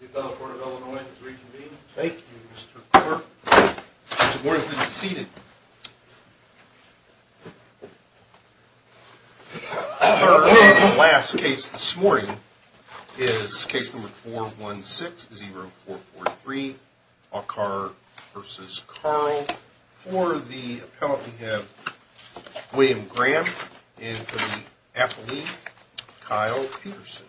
The Appellate Court of Illinois is reconvened. Thank you, Mr. Cooper. Mr. Moore, you may be seated. Our last case this morning is case number 416-0443, Aucar v. Carle. For the appellant, we have William Graham. And for the affiliate, Kyle Peterson.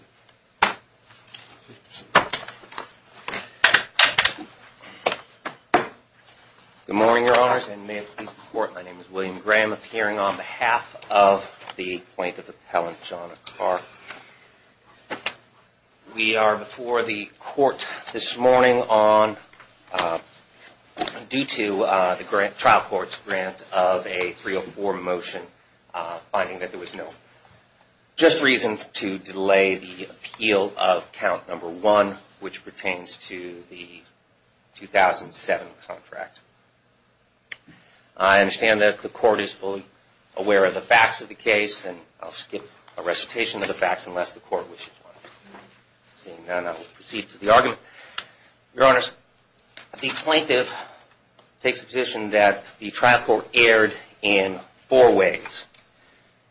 Good morning, Your Honors, and may it please the Court, my name is William Graham, appearing on behalf of the plaintiff appellant, John Aucar. We are before the Court this morning on, due to the trial court's grant of a 304 motion, finding that there was no just reason to delay the appeal of count number 1, which pertains to the 2007 contract. I understand that the Court is fully aware of the facts of the case, and I'll skip a recitation of the facts unless the Court wishes one. Your Honors, the plaintiff takes the position that the trial court erred in four ways.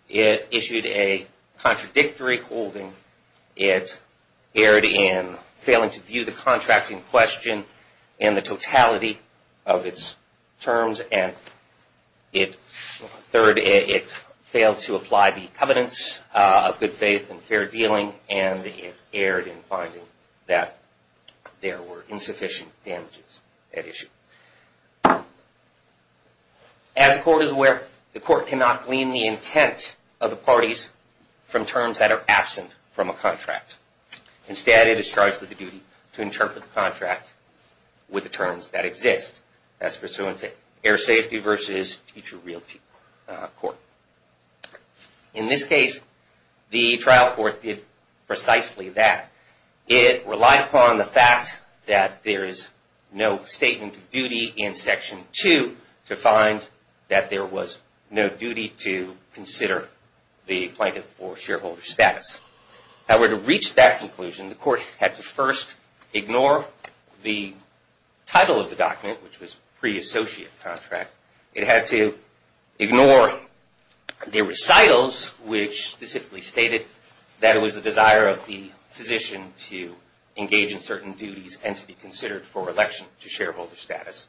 It issued a contradictory holding, it erred in failing to view the contract in question in the totality of its terms, and it failed to apply the covenants of good faith and fair dealing, and it erred in finding that there were insufficient damages at issue. As the Court is aware, the Court cannot glean the intent of the parties from terms that are absent from a contract. Instead, it is charged with the duty to interpret the contract with the terms that exist. That's pursuant to air safety versus teacher realty court. In this case, the trial court did precisely that. It relied upon the fact that there is no statement of duty in Section 2 to find that there was no duty to consider the plaintiff for shareholder status. However, to reach that conclusion, the Court had to first ignore the title of the document, which was pre-associate contract. It had to ignore the recitals, which specifically stated that it was the desire of the physician to engage in certain duties and to be considered for election to shareholder status.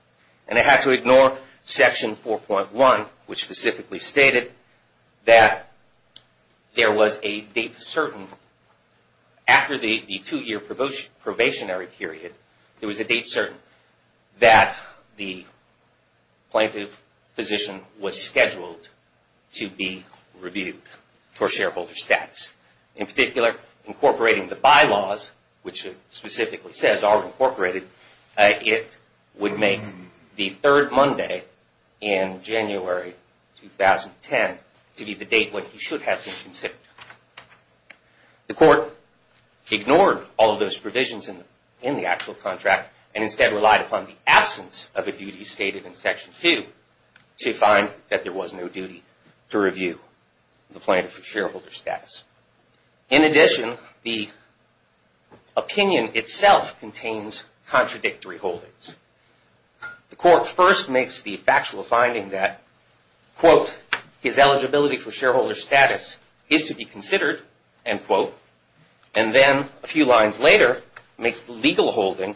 And it had to ignore Section 4.1, which specifically stated that there was a date certain after the two-year probationary period, there was a date certain that the plaintiff physician was scheduled to be reviewed for shareholder status. In particular, incorporating the bylaws, which it specifically says are incorporated, it would make the third Monday in January 2010 to be the date when he should have been considered. The Court ignored all of those provisions in the actual contract and instead relied upon the absence of a duty stated in Section 2 to find that there was no duty to review the plaintiff for shareholder status. In addition, the opinion itself contains contradictory holdings. The Court first makes the factual finding that, quote, his eligibility for shareholder status is to be considered, end quote. And then a few lines later makes the legal holding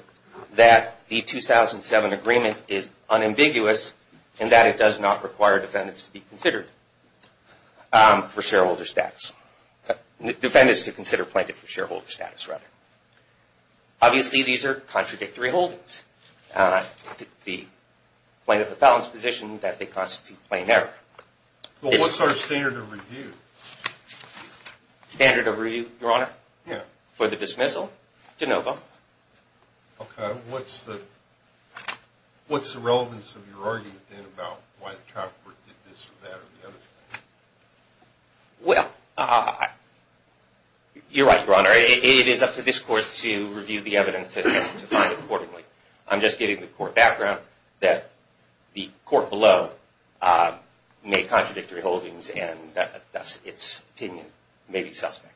that the 2007 agreement is unambiguous and that it does not require defendants to be considered for shareholder status. Defendants to consider plaintiff for shareholder status, rather. Obviously, these are contradictory holdings. It's the plaintiff of balance position that they constitute plain error. Well, what's our standard of review? Standard of review, Your Honor? Yeah. For the dismissal, de novo. Okay. What's the relevance of your argument, then, about why the trafficker did this or that or the other thing? Well, you're right, Your Honor. It is up to this Court to review the evidence and to find accordingly. I'm just giving the Court background that the Court below made contradictory holdings and thus its opinion may be suspect.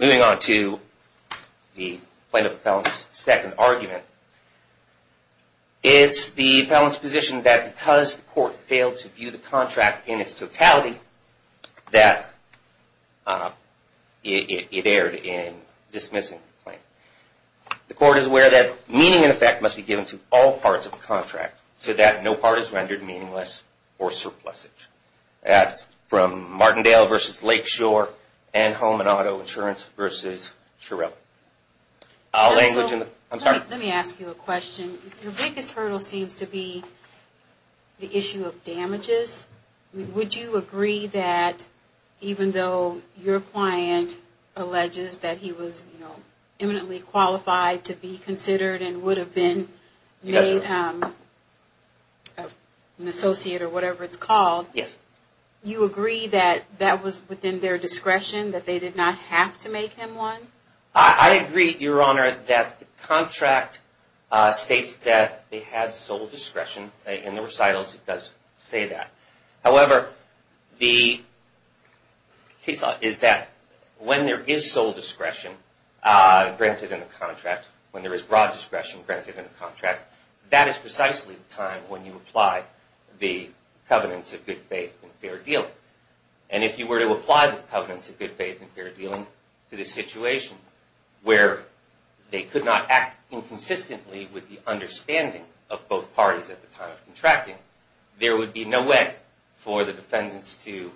Moving on to the plaintiff of balance second argument, it's the plaintiff of balance position that because the Court failed to view the contract in its totality, that it erred in dismissing the claim. The Court is aware that meaning and effect must be given to all parts of the contract so that no part is rendered meaningless or surplusage. That's from Martindale v. Lakeshore and Holman Auto Insurance v. Shirella. Let me ask you a question. Your biggest hurdle seems to be the issue of damages. Would you agree that even though your client alleges that he was imminently qualified to be considered and would have been made an associate or whatever it's called, you agree that that was within their discretion, that they did not have to make him one? I agree, Your Honor, that the contract states that they had sole discretion. In the recitals, it does say that. However, the case law is that when there is sole discretion granted in the contract, when there is broad discretion granted in the contract, that is precisely the time when you apply the covenants of good faith and fair dealing. And if you were to apply the covenants of good faith and fair dealing to the situation where they could not act inconsistently with the understanding of both parties at the time of contracting, there would be no way for the defendants to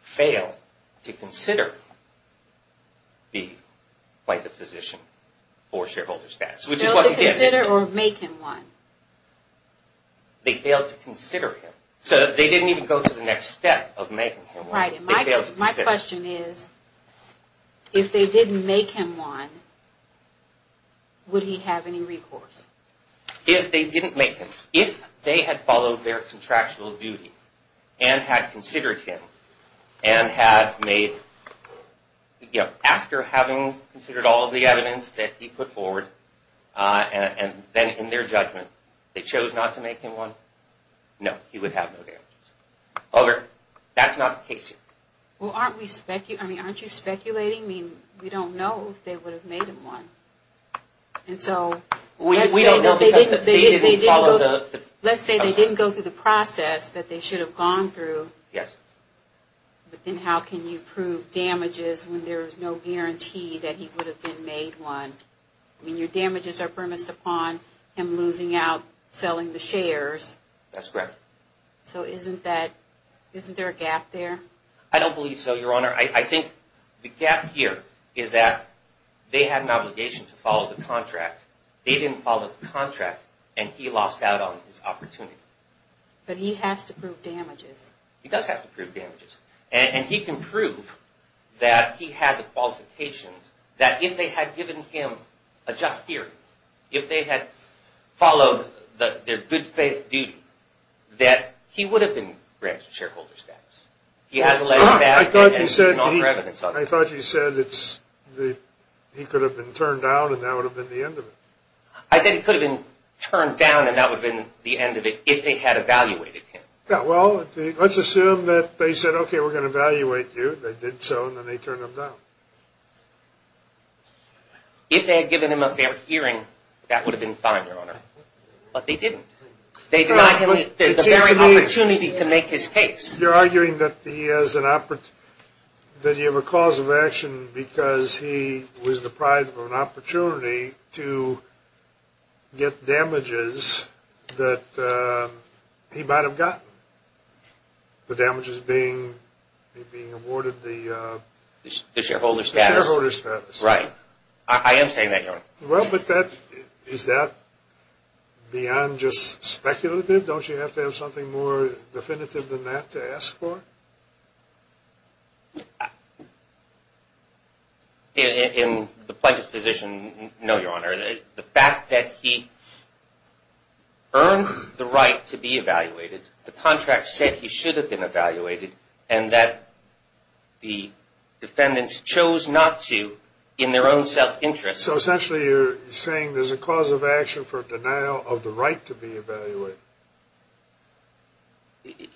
fail to consider the plaintiff physician for shareholder status. Fail to consider or make him one? They failed to consider him. So they didn't even go to the next step of making him one. My question is, if they didn't make him one, would he have any recourse? If they didn't make him, if they had followed their contractual duty and had considered him and had made, you know, after having considered all of the evidence that he put forward and then in their judgment, they chose not to make him one, no, he would have no damages. However, that's not the case here. Well, aren't we speculating, I mean, aren't you speculating? I mean, we don't know if they would have made him one. And so, let's say they didn't go through the process that they should have gone through. Yes. But then how can you prove damages when there is no guarantee that he would have been made one? I mean, your damages are premised upon him losing out, selling the shares. That's correct. So isn't that, isn't there a gap there? I don't believe so, Your Honor. Your Honor, I think the gap here is that they had an obligation to follow the contract. They didn't follow the contract and he lost out on his opportunity. But he has to prove damages. He does have to prove damages. And he can prove that he had the qualifications that if they had given him a just hearing, if they had followed their good faith duty, that he would have been granted shareholder status. I thought you said he could have been turned down and that would have been the end of it. I said he could have been turned down and that would have been the end of it if they had evaluated him. Yeah, well, let's assume that they said, okay, we're going to evaluate you. They did so and then they turned him down. If they had given him a fair hearing, that would have been fine, Your Honor. But they didn't. They denied him the very opportunity to make his case. You're arguing that he has an opportunity, that you have a cause of action because he was deprived of an opportunity to get damages that he might have gotten, the damages being awarded the shareholder status. I am saying that, Your Honor. Well, but is that beyond just speculative? Don't you have to have something more definitive than that to ask for? In the plaintiff's position, no, Your Honor. The fact that he earned the right to be evaluated, the contract said he should have been evaluated, and that the defendants chose not to in their own self-interest. So essentially you're saying there's a cause of action for denial of the right to be evaluated.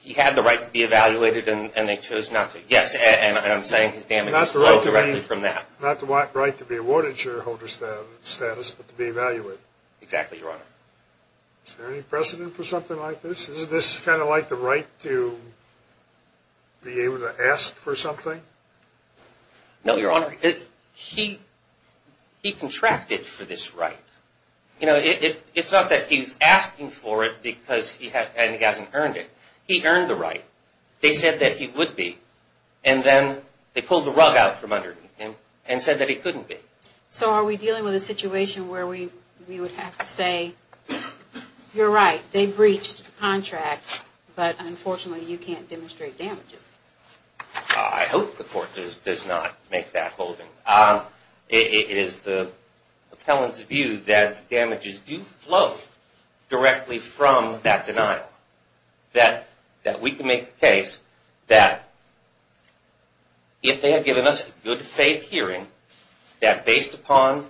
He had the right to be evaluated and they chose not to. Yes, and I'm saying his damages flow directly from that. Not the right to be awarded shareholder status, but to be evaluated. Exactly, Your Honor. Is there any precedent for something like this? Is this kind of like the right to be able to ask for something? No, Your Honor. He contracted for this right. It's not that he's asking for it because he hasn't earned it. He earned the right. They said that he would be, and then they pulled the rug out from underneath him and said that he couldn't be. So are we dealing with a situation where we would have to say, you're right, they breached the contract, but unfortunately you can't demonstrate damages? I hope the court does not make that holding. It is the appellant's view that damages do flow directly from that denial. That we can make the case that if they had given us a good faith hearing, that based upon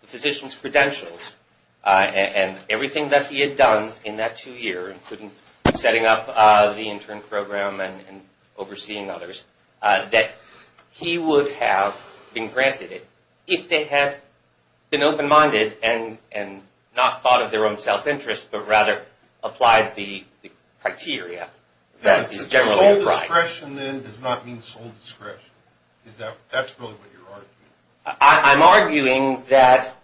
the physician's credentials and everything that he had done in that two years, including setting up the intern program and overseeing others, that he would have been granted it if they had been open-minded and not thought of their own self-interest, but rather applied the criteria that is generally applied. Sole discretion then does not mean sole discretion. That's really what you're arguing. I'm arguing that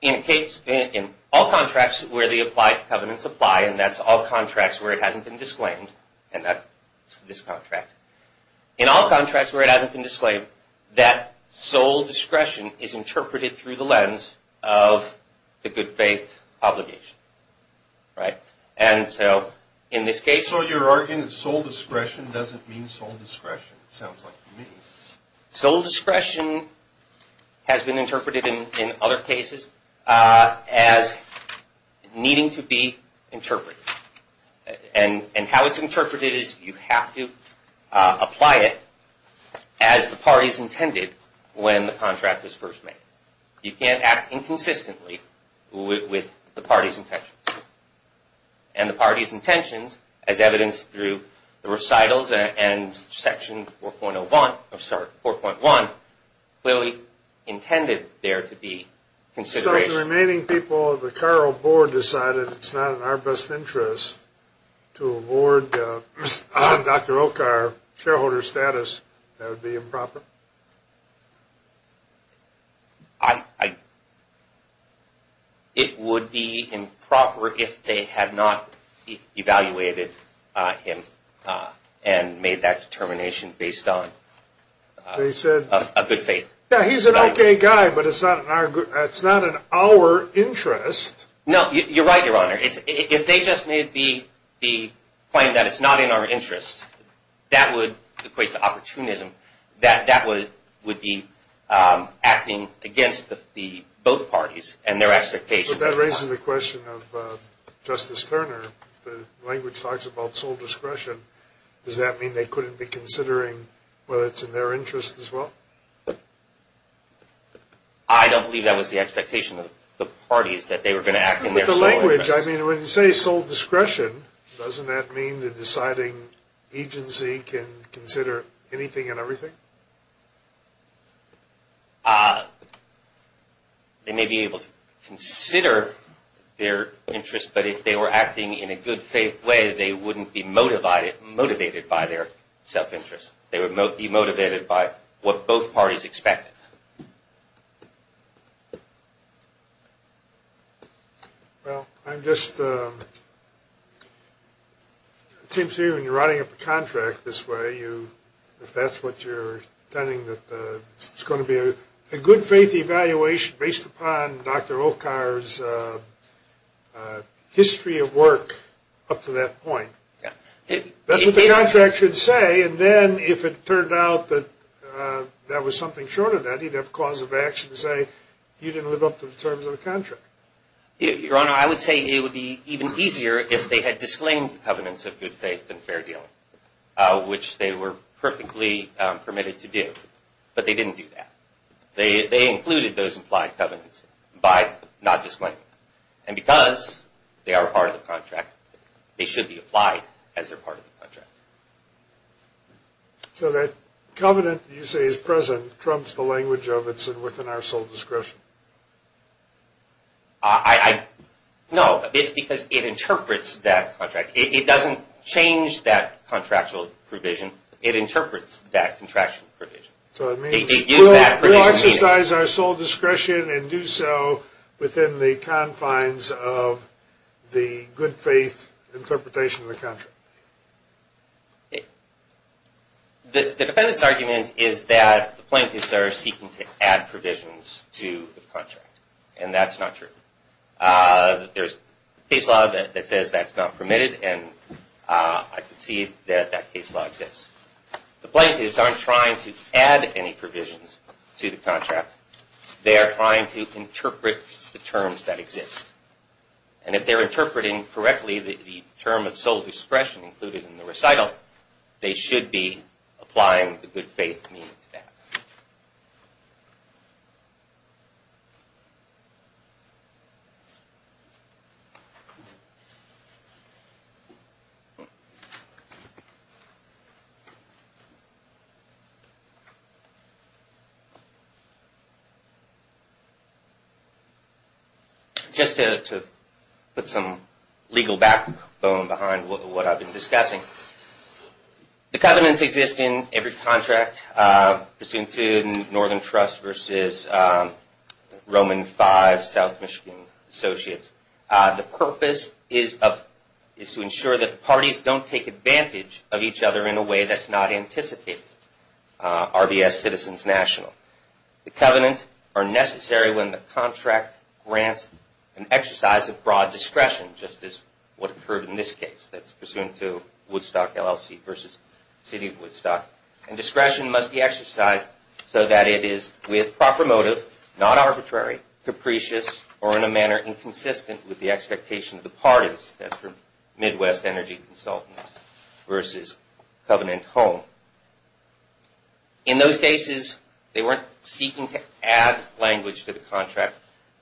in all contracts where the applied covenants apply, and that's all contracts where it hasn't been disclaimed, and that's this contract. In all contracts where it hasn't been disclaimed, that sole discretion is interpreted through the lens of the good faith obligation. Right? And so in this case... So you're arguing that sole discretion doesn't mean sole discretion, it sounds like to me. Sole discretion has been interpreted in other cases as needing to be interpreted. And how it's interpreted is you have to apply it as the parties intended when the contract is first made. You can't act inconsistently with the party's intentions. And the party's intentions, as evidenced through the recitals and Section 4.1, clearly intended there to be consideration. So the remaining people of the Carroll board decided it's not in our best interest to award Dr. O'Carr shareholder status. That would be improper. It would be improper if they had not evaluated him and made that determination based on a good faith. Yeah, he's an okay guy, but it's not in our interest. No, you're right, Your Honor. If they just made the claim that it's not in our interest, that would equate to opportunism. That would be acting against both parties and their expectations. But that raises the question of Justice Turner. The language talks about sole discretion. Does that mean they couldn't be considering whether it's in their interest as well? I don't believe that was the expectation of the parties, that they were going to act in their sole interest. The language, I mean, when you say sole discretion, doesn't that mean the deciding agency can consider anything and everything? They may be able to consider their interest, but if they were acting in a good faith way, they wouldn't be motivated by their self-interest. They would be motivated by what both parties expected. I'm just, it seems to me when you're writing up a contract this way, if that's what you're intending, that it's going to be a good faith evaluation based upon Dr. Okar's history of work up to that point. That's what the contract should say. And then if it turned out that that was something short of that, he'd have cause of action to say, you didn't live up to the terms of the contract. Your Honor, I would say it would be even easier if they had disclaimed the covenants of good faith and fair dealing, which they were perfectly permitted to do. But they didn't do that. They included those implied covenants by not disclaiming them. And because they are part of the contract, they should be applied as they're part of the contract. So that covenant that you say is present trumps the language of it's within our sole discretion? No, because it interprets that contract. It doesn't change that contractual provision. It interprets that contractual provision. So it means we'll exercise our sole discretion and do so within the confines of the good faith interpretation of the contract. The defendant's argument is that the plaintiffs are seeking to add provisions to the contract. And that's not true. There's a case law that says that's not permitted, and I can see that that case law exists. The plaintiffs aren't trying to add any provisions to the contract. They are trying to interpret the terms that exist. And if they're interpreting correctly the term of sole discretion included in the recital, they should be applying the good faith meaning to that. Thank you. Just to put some legal backbone behind what I've been discussing. The covenants exist in every contract, pursuant to Northern Trust versus Roman V South Michigan Associates. The purpose is to ensure that the parties don't take advantage of each other in a way that's not anticipated. RBS Citizens National. The covenants are necessary when the contract grants an exercise of broad discretion, just as what occurred in this case. That's pursuant to Woodstock LLC versus City of Woodstock. And discretion must be exercised so that it is with proper motive, not arbitrary, capricious, or in a manner inconsistent with the expectation of the parties. That's for Midwest Energy Consultants versus Covenant Home. In those cases, they weren't seeking to add language to the contract.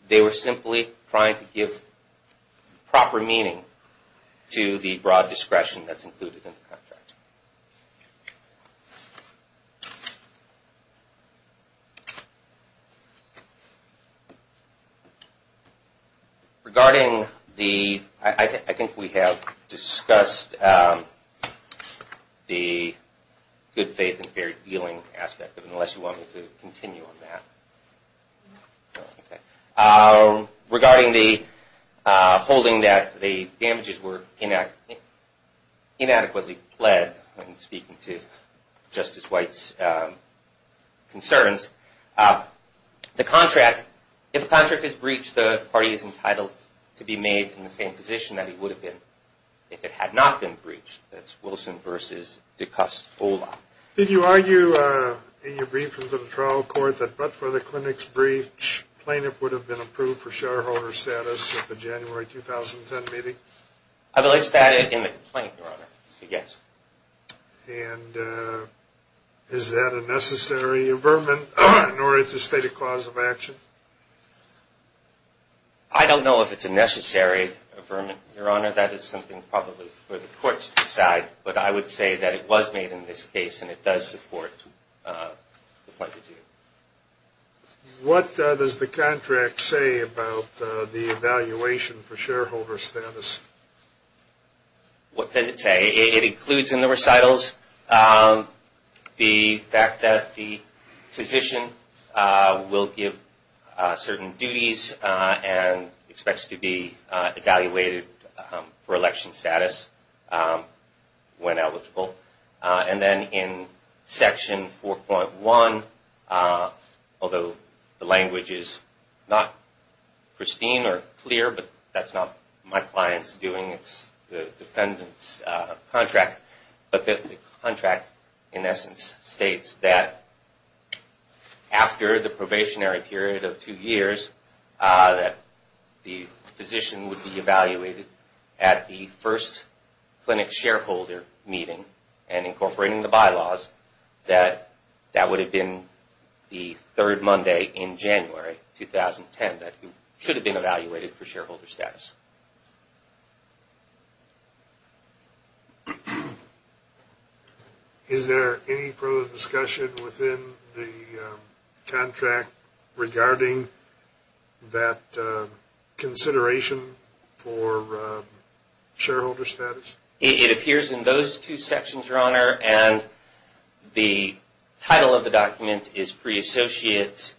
They were simply trying to give proper meaning to the broad discretion that's included in the contract. Regarding the, I think we have discussed the good faith and fair dealing aspect of it, unless you want me to continue on that. Regarding the holding that the damages were inadequately pled when speaking to Justice White's concerns, the contract, if a contract is breached, the party is entitled to be made in the same position that it would have been if it had not been breached. That's Wilson versus DeCoste-Ola. Did you argue in your brief in the trial court that but for the clinic's breach, plaintiff would have been approved for shareholder status at the January 2010 meeting? I released that in the complaint, Your Honor. Yes. And is that a necessary affirmation, or it's a stated cause of action? I don't know if it's a necessary affirmation, Your Honor. That is something probably for the courts to decide. But I would say that it was made in this case, and it does support the plaintiff's view. What does the contract say about the evaluation for shareholder status? What does it say? It includes in the recitals the fact that the physician will give certain duties and expects to be evaluated for election status. When eligible. And then in section 4.1, although the language is not pristine or clear, but that's not my client's doing, it's the defendant's contract. But the contract in essence states that after the probationary period of two years, that the physician would be evaluated at the first clinic shareholder meeting and incorporating the bylaws, that that would have been the third Monday in January 2010. That he should have been evaluated for shareholder status. Is there any further discussion within the contract regarding that consideration for shareholder status? It appears in those two sections, Your Honor. And the title of the document is pre-associate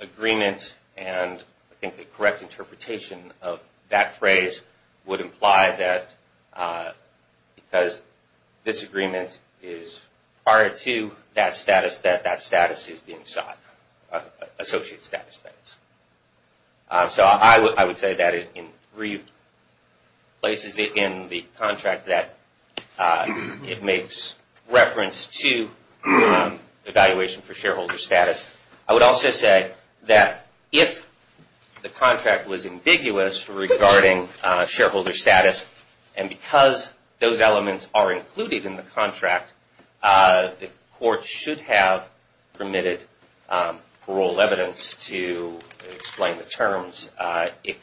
agreement and I think the correct interpretation of that phrase would imply that because this agreement is prior to that status, that that status is being sought. Associate status, that is. So I would say that in three places in the contract that it makes reference to evaluation for shareholder status. I would also say that if the contract was ambiguous regarding shareholder status and because those elements are included in the contract, the court should have permitted parole evidence to explain the terms if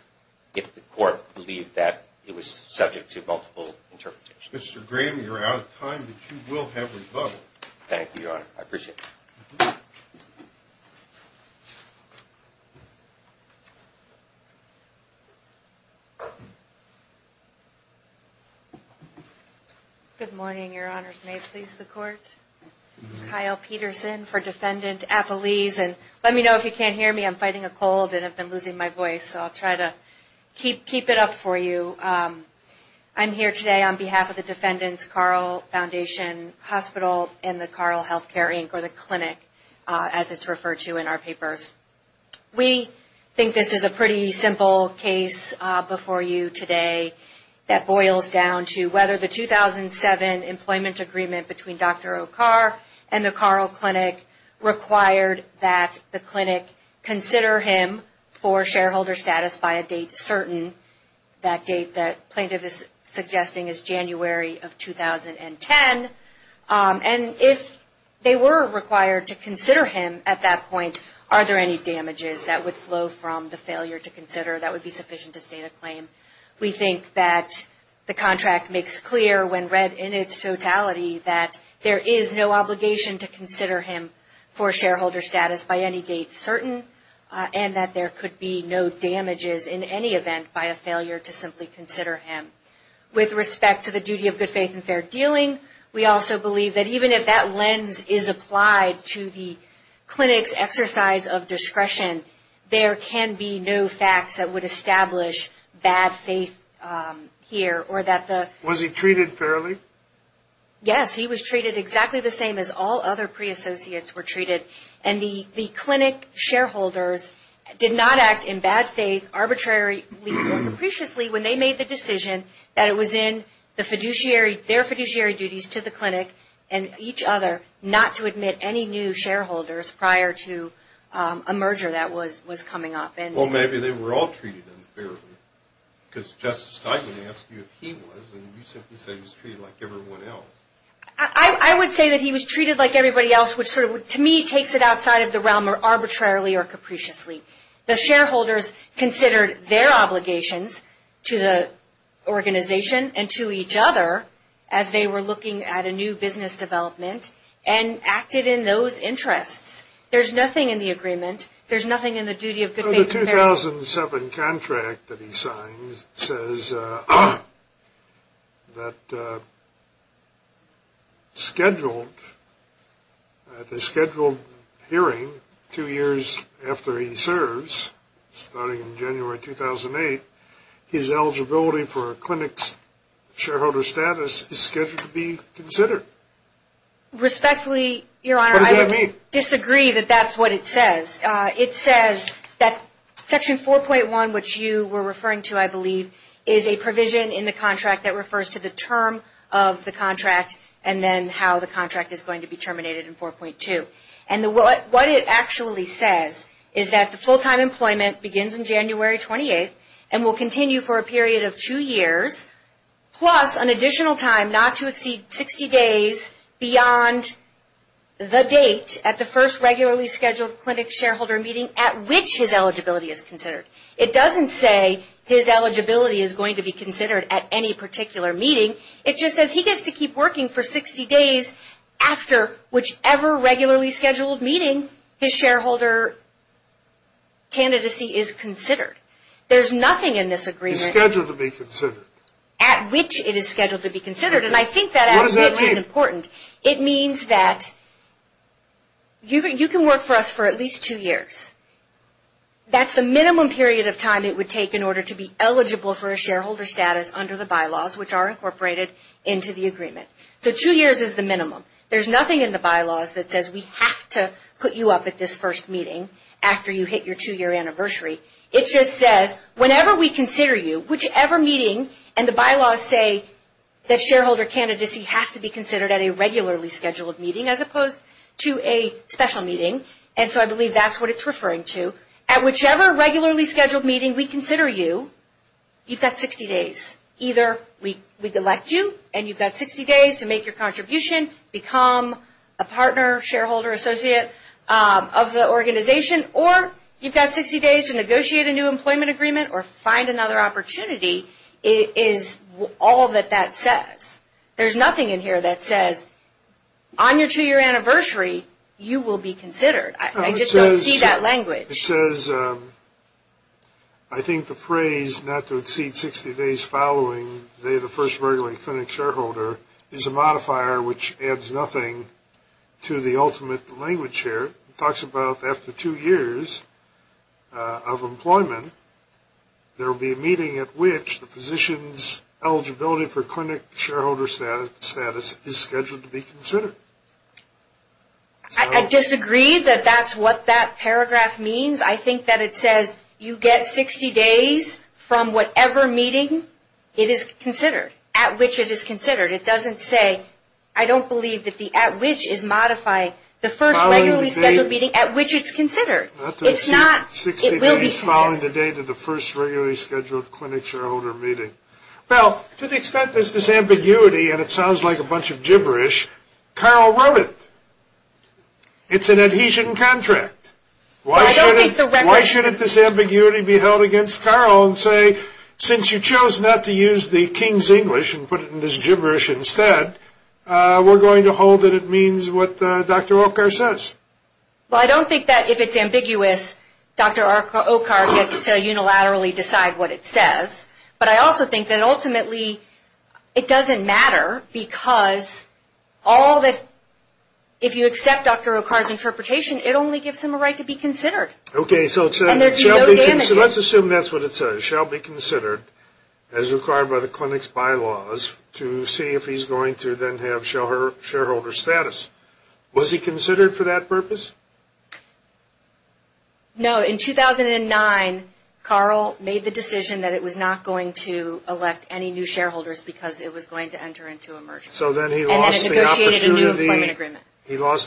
the court believed that it was subject to multiple interpretations. Mr. Graham, you're out of time, but you will have rebuttal. Thank you, Your Honor. I appreciate it. Thank you. Good morning, Your Honors. May it please the court. Kyle Peterson for Defendant Appelese and let me know if you can't hear me. I'm fighting a cold and I've been losing my voice, so I'll try to keep it up for you. I'm here today on behalf of the Defendant's Carl Foundation Hospital and the Carl Healthcare Inc., or the clinic, as it's referred to in our papers. We think this is a pretty simple case before you today that boils down to whether the 2007 employment agreement between Dr. O'Car and the Carl Clinic required that the clinic consider him for shareholder status by a date certain, that date that plaintiff is suggesting is January of 2010. And if they were required to consider him at that point, are there any damages that would flow from the failure to consider that would be sufficient to state a claim? We think that the contract makes clear when read in its totality that there is no obligation to consider him for shareholder status by any date certain and that there could be no damages in any event by a failure to simply consider him. With respect to the duty of good faith and fair dealing, we also believe that even if that lens is applied to the clinic's exercise of discretion, there can be no facts that would establish bad faith here or that the... Was he treated fairly? Yes, he was treated exactly the same as all other pre-associates were treated. And the clinic shareholders did not act in bad faith arbitrarily or capriciously when they made the decision that it was in the fiduciary, their fiduciary duties to the clinic and each other, not to admit any new shareholders prior to a merger that was coming up. Well, maybe they were all treated unfairly. Because Justice Steinman asked you if he was, and you simply said he was treated like everyone else. I would say that he was treated like everybody else, which to me takes it outside of the realm arbitrarily or capriciously. The shareholders considered their obligations to the organization and to each other as they were looking at a new business development and acted in those interests. There's nothing in the agreement. There's nothing in the duty of good faith and fair... The 2007 contract that he signs says that scheduled, at the scheduled hearing two years after he serves, starting in January 2008, his eligibility for a clinic's shareholder status is scheduled to be considered. Respectfully, Your Honor, I disagree that that's what it says. It says that Section 4.1, which you were referring to, I believe, is a provision in the contract that refers to the term of the contract and then how the contract is going to be terminated in 4.2. What it actually says is that the full-time employment begins in January 28th and will continue for a period of two years, plus an additional time not to exceed 60 days beyond the date at the first regularly scheduled clinic shareholder meeting at which his eligibility is considered. It doesn't say his eligibility is going to be considered at any particular meeting. It just says he gets to keep working for 60 days after whichever regularly scheduled meeting his shareholder candidacy is considered. There's nothing in this agreement... It's scheduled to be considered. At which it is scheduled to be considered. What does that mean? It means that you can work for us for at least two years. That's the minimum period of time it would take in order to be eligible for a shareholder status under the bylaws, which are incorporated into the agreement. Two years is the minimum. There's nothing in the bylaws that says we have to put you up at this first meeting after you hit your two-year anniversary. It just says, whenever we consider you, whichever meeting, and the bylaws say that shareholder candidacy has to be considered at a regularly scheduled meeting as opposed to a special meeting. I believe that's what it's referring to. At whichever regularly scheduled meeting we consider you, you've got 60 days. Either we elect you and you've got 60 days to make your contribution, become a partner, shareholder, associate of the organization, or you've got 60 days to negotiate a new employment agreement or find another opportunity is all that that says. There's nothing in here that says on your two-year anniversary, you will be considered. I just don't see that language. It says, I think the phrase not to exceed 60 days following the day of the first regular clinic shareholder is a modifier which adds nothing to the ultimate language here. It talks about after two years of employment, there will be a meeting at which the physician's eligibility for clinic shareholder status is scheduled to be considered. I disagree that that's what that paragraph means. I think that it says you get 60 days from whatever meeting it is considered, at which it is considered. It doesn't say, I don't believe that the at which is modifying the first regularly scheduled meeting at which it's considered. It's not, it will be considered. 60 days following the date of the first regularly scheduled clinic shareholder meeting. Well, to the extent there's this ambiguity, and it sounds like a bunch of gibberish, Carl wrote it. It's an adhesion contract. Why shouldn't this ambiguity be held against Carl and say, since you chose not to use the King's English and put it in this gibberish instead, we're going to hold that it means what Dr. Okar says. Well, I don't think that if it's ambiguous, Dr. Okar gets to unilaterally decide what it says. But I also think that ultimately it doesn't matter, because all that, if you accept Dr. Okar's interpretation, it only gives him a right to be considered. Okay, so let's assume that's what it says, shall be considered as required by the clinic's bylaws to see if he's going to then have shareholder status. Was he considered for that purpose? No, in 2009, Carl made the decision that it was not going to elect any new shareholders because it was going to enter into a merger. So then he lost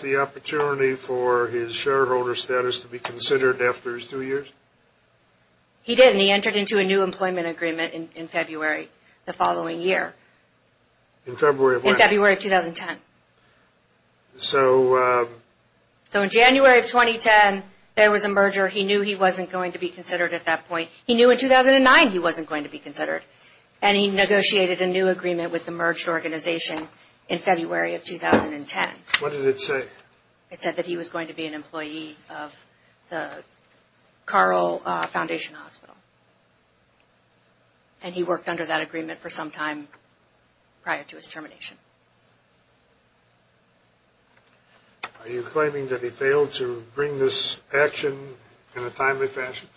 the opportunity for his shareholder status to be considered after his two years? He didn't. He entered into a new employment agreement in February the following year. In February of what? In February of 2010. So... So in January of 2010, there was a merger. He knew he wasn't going to be considered at that point. He knew in 2009 he wasn't going to be considered. And he negotiated a new agreement with the merged organization in February of 2010. What did it say? It said that he was going to be an employee of the Carl Foundation Hospital. And he worked under that agreement for some time prior to his termination. Are you claiming that he failed to bring this action in a timely fashion?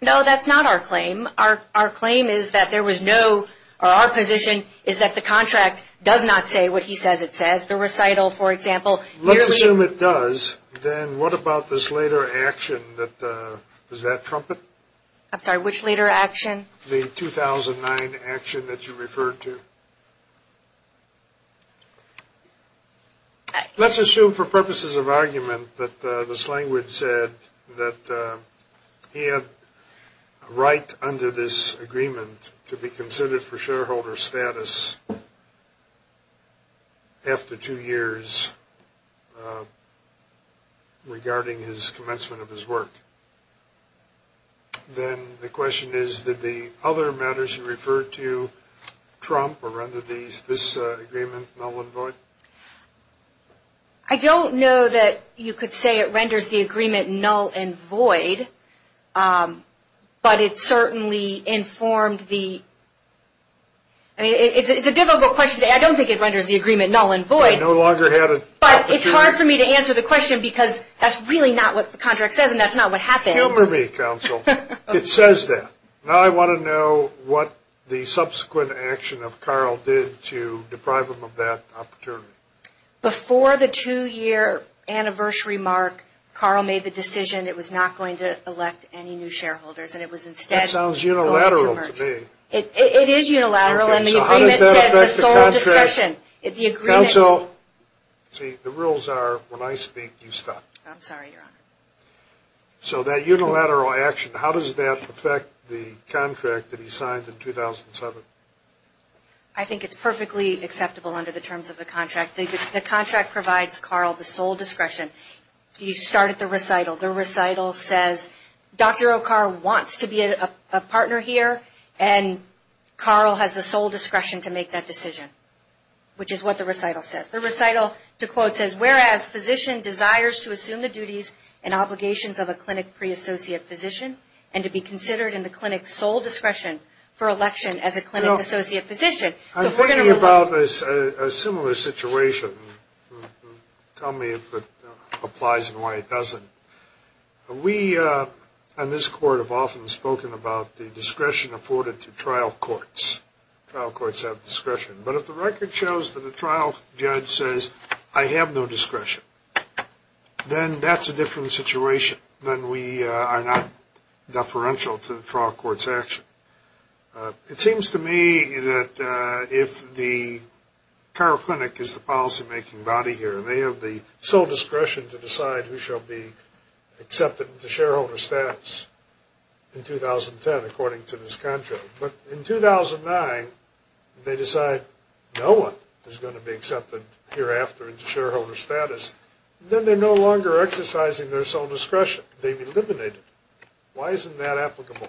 No, that's not our claim. Our claim is that there was no... Our position is that the contract does not say what he says it says. The recital, for example... Let's assume it does. Then what about this later action that... Was that Trumpet? I'm sorry, which later action? The 2009 action that you referred to. Let's assume for purposes of argument that this language said that he had a right under this agreement to be considered for shareholder status after two years regarding his commencement of his work. Then the question is that the other matters you referred to, Trump or under this agreement, null and void, I don't know that you could say it renders the agreement null and void, but it certainly informed the... I mean, it's a difficult question. I don't think it renders the agreement null and void. I no longer have a... But it's hard for me to answer the question because that's really not what the contract says and that's not what happened. Humor me, counsel. It says that. Now I want to know what the subsequent action of Carl did to deprive him of that opportunity. Before the two-year anniversary mark, Carl made the decision it was not going to elect any new shareholders and it was instead... That sounds unilateral to me. It is unilateral and the agreement says the sole discretion... Counsel, see, the rules are when I speak, you stop. I'm sorry, your honor. So that unilateral action, how does that affect the contract that he signed in 2007? I think it's perfectly acceptable under the terms of the contract. The contract provides Carl the sole discretion. You start at the recital. The recital says Dr. O'Carl wants to be a partner here and Carl has the sole discretion to make that decision, which is what the recital says. The recital, to quote, says, whereas physician desires to assume the duties and obligations of a clinic pre-associate physician and to be considered in the clinic sole discretion for election as a clinic associate physician. I'm thinking about a similar situation. Tell me if it applies and why it doesn't. We on this court have often spoken about the discretion afforded to trial courts. Trial courts have discretion. But if the record shows that a trial judge says, I have no discretion, then that's a different situation. Then we are not deferential to the trial court's action. It seems to me that if the Carl Clinic is the policymaking body here, they have the sole discretion to decide who shall be accepted into shareholder status in 2010, according to this contract. But in 2009, they decide no one is going to be accepted hereafter into shareholder status. Then they are no longer exercising their sole discretion. They've eliminated it. Why isn't that applicable?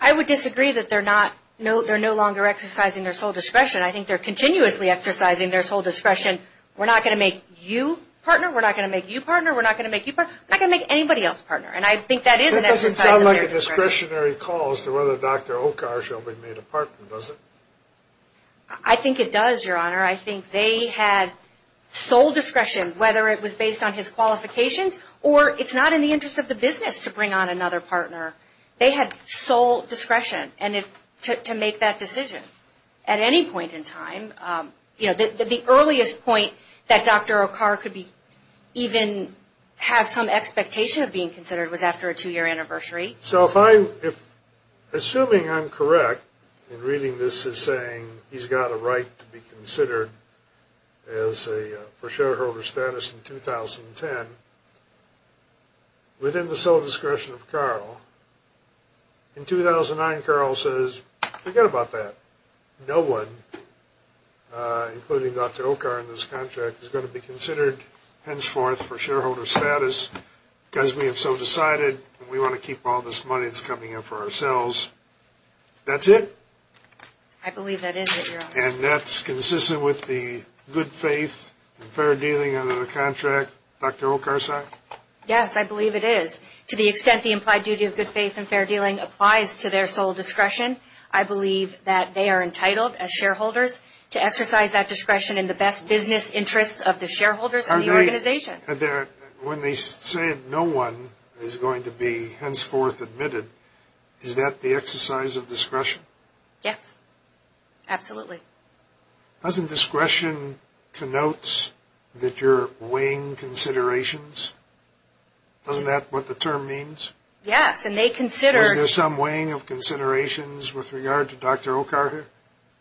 I would disagree that they're no longer exercising their sole discretion. I think they're continuously exercising their sole discretion. We're not going to make you partner. We're not going to make you partner. We're not going to make anybody else partner. And I think that is an exercise of their discretion. It doesn't sound like a discretionary call as to whether Dr. Okar shall be made a partner, does it? I think it does, Your Honor. I think they had sole discretion, whether it was based on his qualifications or it's not in the interest of the business to bring on another partner. They had sole discretion to make that decision at any point in time. The earliest point that Dr. Okar could even have some expectation of being considered was after a two-year anniversary. So, assuming I'm correct in reading this as saying he's got a right to be considered for shareholder status in 2010, within the sole discretion of Carl, in 2009 Carl says, forget about that. No one, including Dr. Okar in this contract, is going to be considered henceforth for shareholder status because we have so decided and we want to keep all this money that's coming in for ourselves. That's it. I believe that is it, Your Honor. And that's consistent with the good faith and fair dealing under the contract. Is that correct, Dr. Okarsak? Yes, I believe it is. To the extent the implied duty of good faith and fair dealing applies to their sole discretion, I believe that they are entitled as shareholders to exercise that discretion in the best business interests of the shareholders and the organization. When they say no one is going to be henceforth admitted, is that the exercise of discretion? Yes. Absolutely. Doesn't discretion connote that you're weighing considerations? Isn't that what the term means? Yes. Was there some weighing of considerations with regard to Dr. Okar?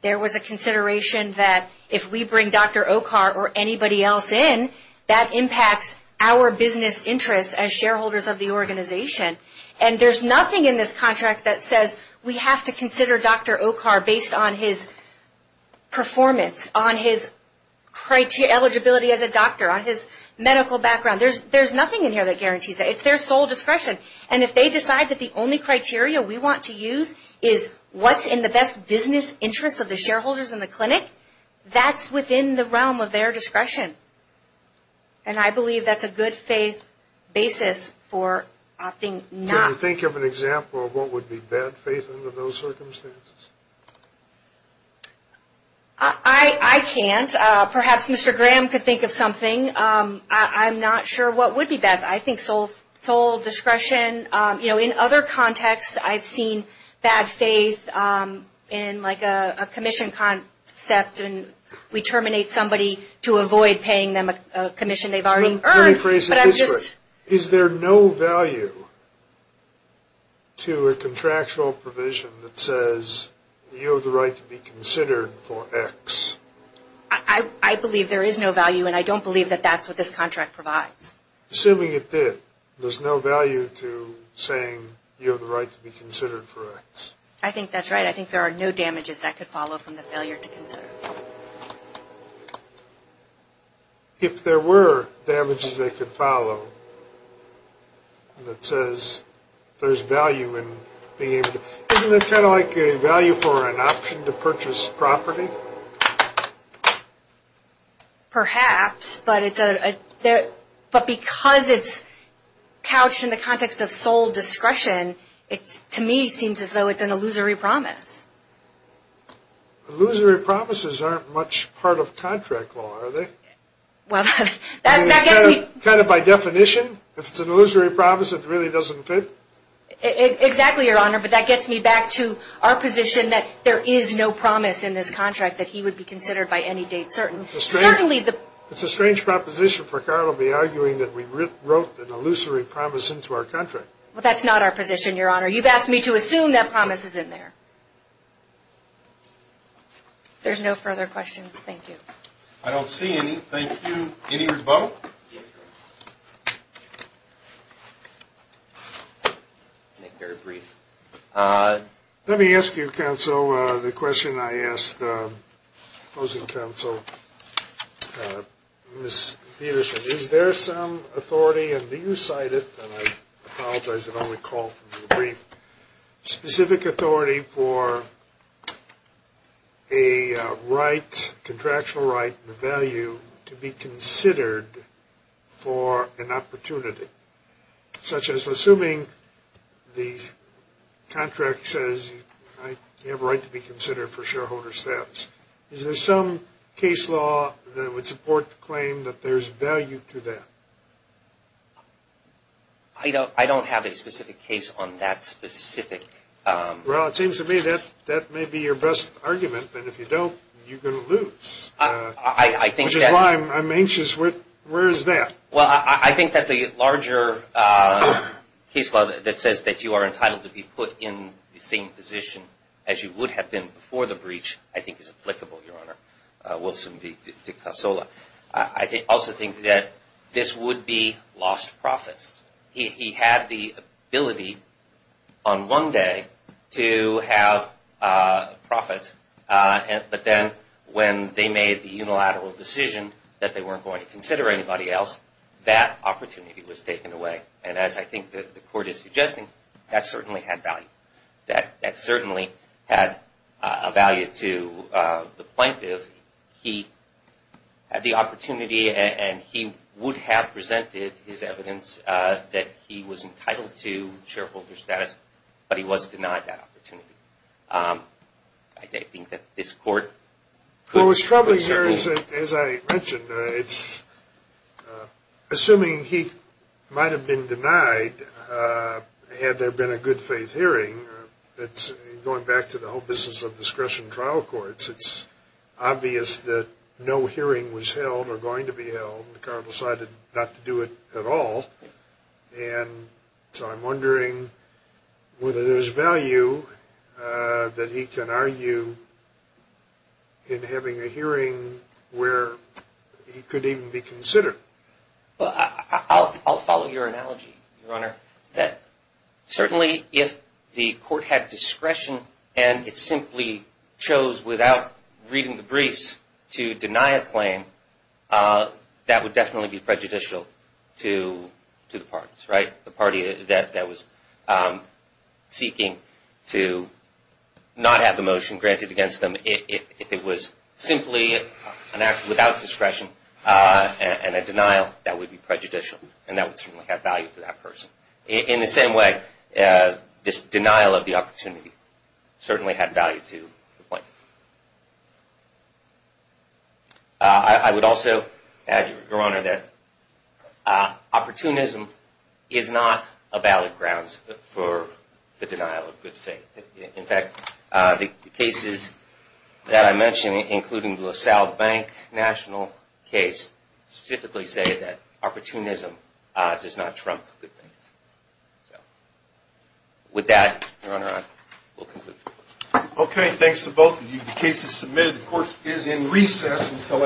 There was a consideration that if we bring Dr. Okar or anybody else in, that impacts our business interests as shareholders of the organization. And there's nothing in this contract that says we have to consider Dr. Okar based on his performance, on his eligibility as a doctor, on his medical background. There's nothing in here that guarantees that. It's their sole discretion. And if they decide that the only criteria we want to use is what's in the best business interests of the shareholders in the clinic, that's within the realm of their discretion. And I believe that's a good faith basis for opting not. Can you think of an example of what would be bad faith under those circumstances? I can't. Perhaps Mr. Graham could think of something. I'm not sure what would be bad. I think sole discretion. You know, in other contexts I've seen bad faith in like a commission concept and we terminate somebody to avoid paying them a commission they've already earned. Let me phrase it this way. Is there no value to a contractual provision that says you have the right to be considered for X? I believe there is no value and I don't believe that that's what this contract provides. Assuming it did, there's no value to saying you have the right to be considered for X. I think that's right. I think there are no damages that could follow from the failure to consider. If there were damages that could follow that says there's value in being able to, isn't it kind of like a value for an option to purchase property? Perhaps, but because it's couched in the context of sole discretion, to me it seems as though it's an illusory promise. Illusory promises aren't much part of contract law, are they? Kind of by definition, if it's an illusory promise it really doesn't fit. Exactly, Your Honor, but that gets me back to our position that there is no promise in this contract that he would be considered by any date certain. It's a strange proposition for Carl to be arguing that we wrote an illusory promise into our contract. Well, that's not our position, Your Honor. You've asked me to assume that promise is in there. There's no further questions. Thank you. I don't see any. Thank you. Any rebuttal? Yes, Your Honor. I'll make it very brief. Let me ask you, Counsel, the question I asked the opposing counsel, Ms. Peterson, is there some authority, and do you cite it, and I apologize if I only call for the brief, specific authority for a right, contractual right, the value to be considered for an opportunity, such as assuming the contract says you have a right to be considered for shareholder status. Is there some case law that would support the claim that there's value to that? I don't have a specific case on that specific. Well, it seems to me that that may be your best argument, but if you don't, you're going to lose. I think that. Which is why I'm anxious. Where is that? Well, I think that the larger case law that says that you are entitled to be put in the same position as you would have been before the breach, I think is applicable, Your Honor. Wilson v. DeCasola. I also think that this would be lost profits. He had the ability on one day to have profits, but then when they made the unilateral decision that they weren't going to consider anybody else, that opportunity was taken away. And as I think that the court is suggesting, that certainly had value. That certainly had a value to the plaintiff. He had the opportunity, and he would have presented his evidence that he was entitled to shareholder status, but he was denied that opportunity. I think that this court... Well, what's troubling here is, as I mentioned, it's assuming he might have been denied had there been a good faith hearing. Going back to the whole business of discretion trial courts, it's obvious that no hearing was held or going to be held. The court decided not to do it at all. And so I'm wondering whether there's value that he can argue in having a hearing where he could even be considered. I'll follow your analogy, Your Honor. Certainly, if the court had discretion, and it simply chose without reading the briefs to deny a claim, that would definitely be prejudicial to the parties, right? The party that was seeking to not have the motion granted against them. If it was simply an act without discretion and a denial, that would be prejudicial. And that would certainly have value to that person. In the same way, this denial of the opportunity certainly had value to the plaintiff. I would also add, Your Honor, that opportunism is not a valid grounds for the denial of good faith. In fact, the cases that I mentioned, including the LaSalle Bank national case, specifically say that opportunism does not trump good faith. With that, Your Honor, I will conclude. Okay. Thanks to both of you. The case is submitted. The court is in recess until after lunch.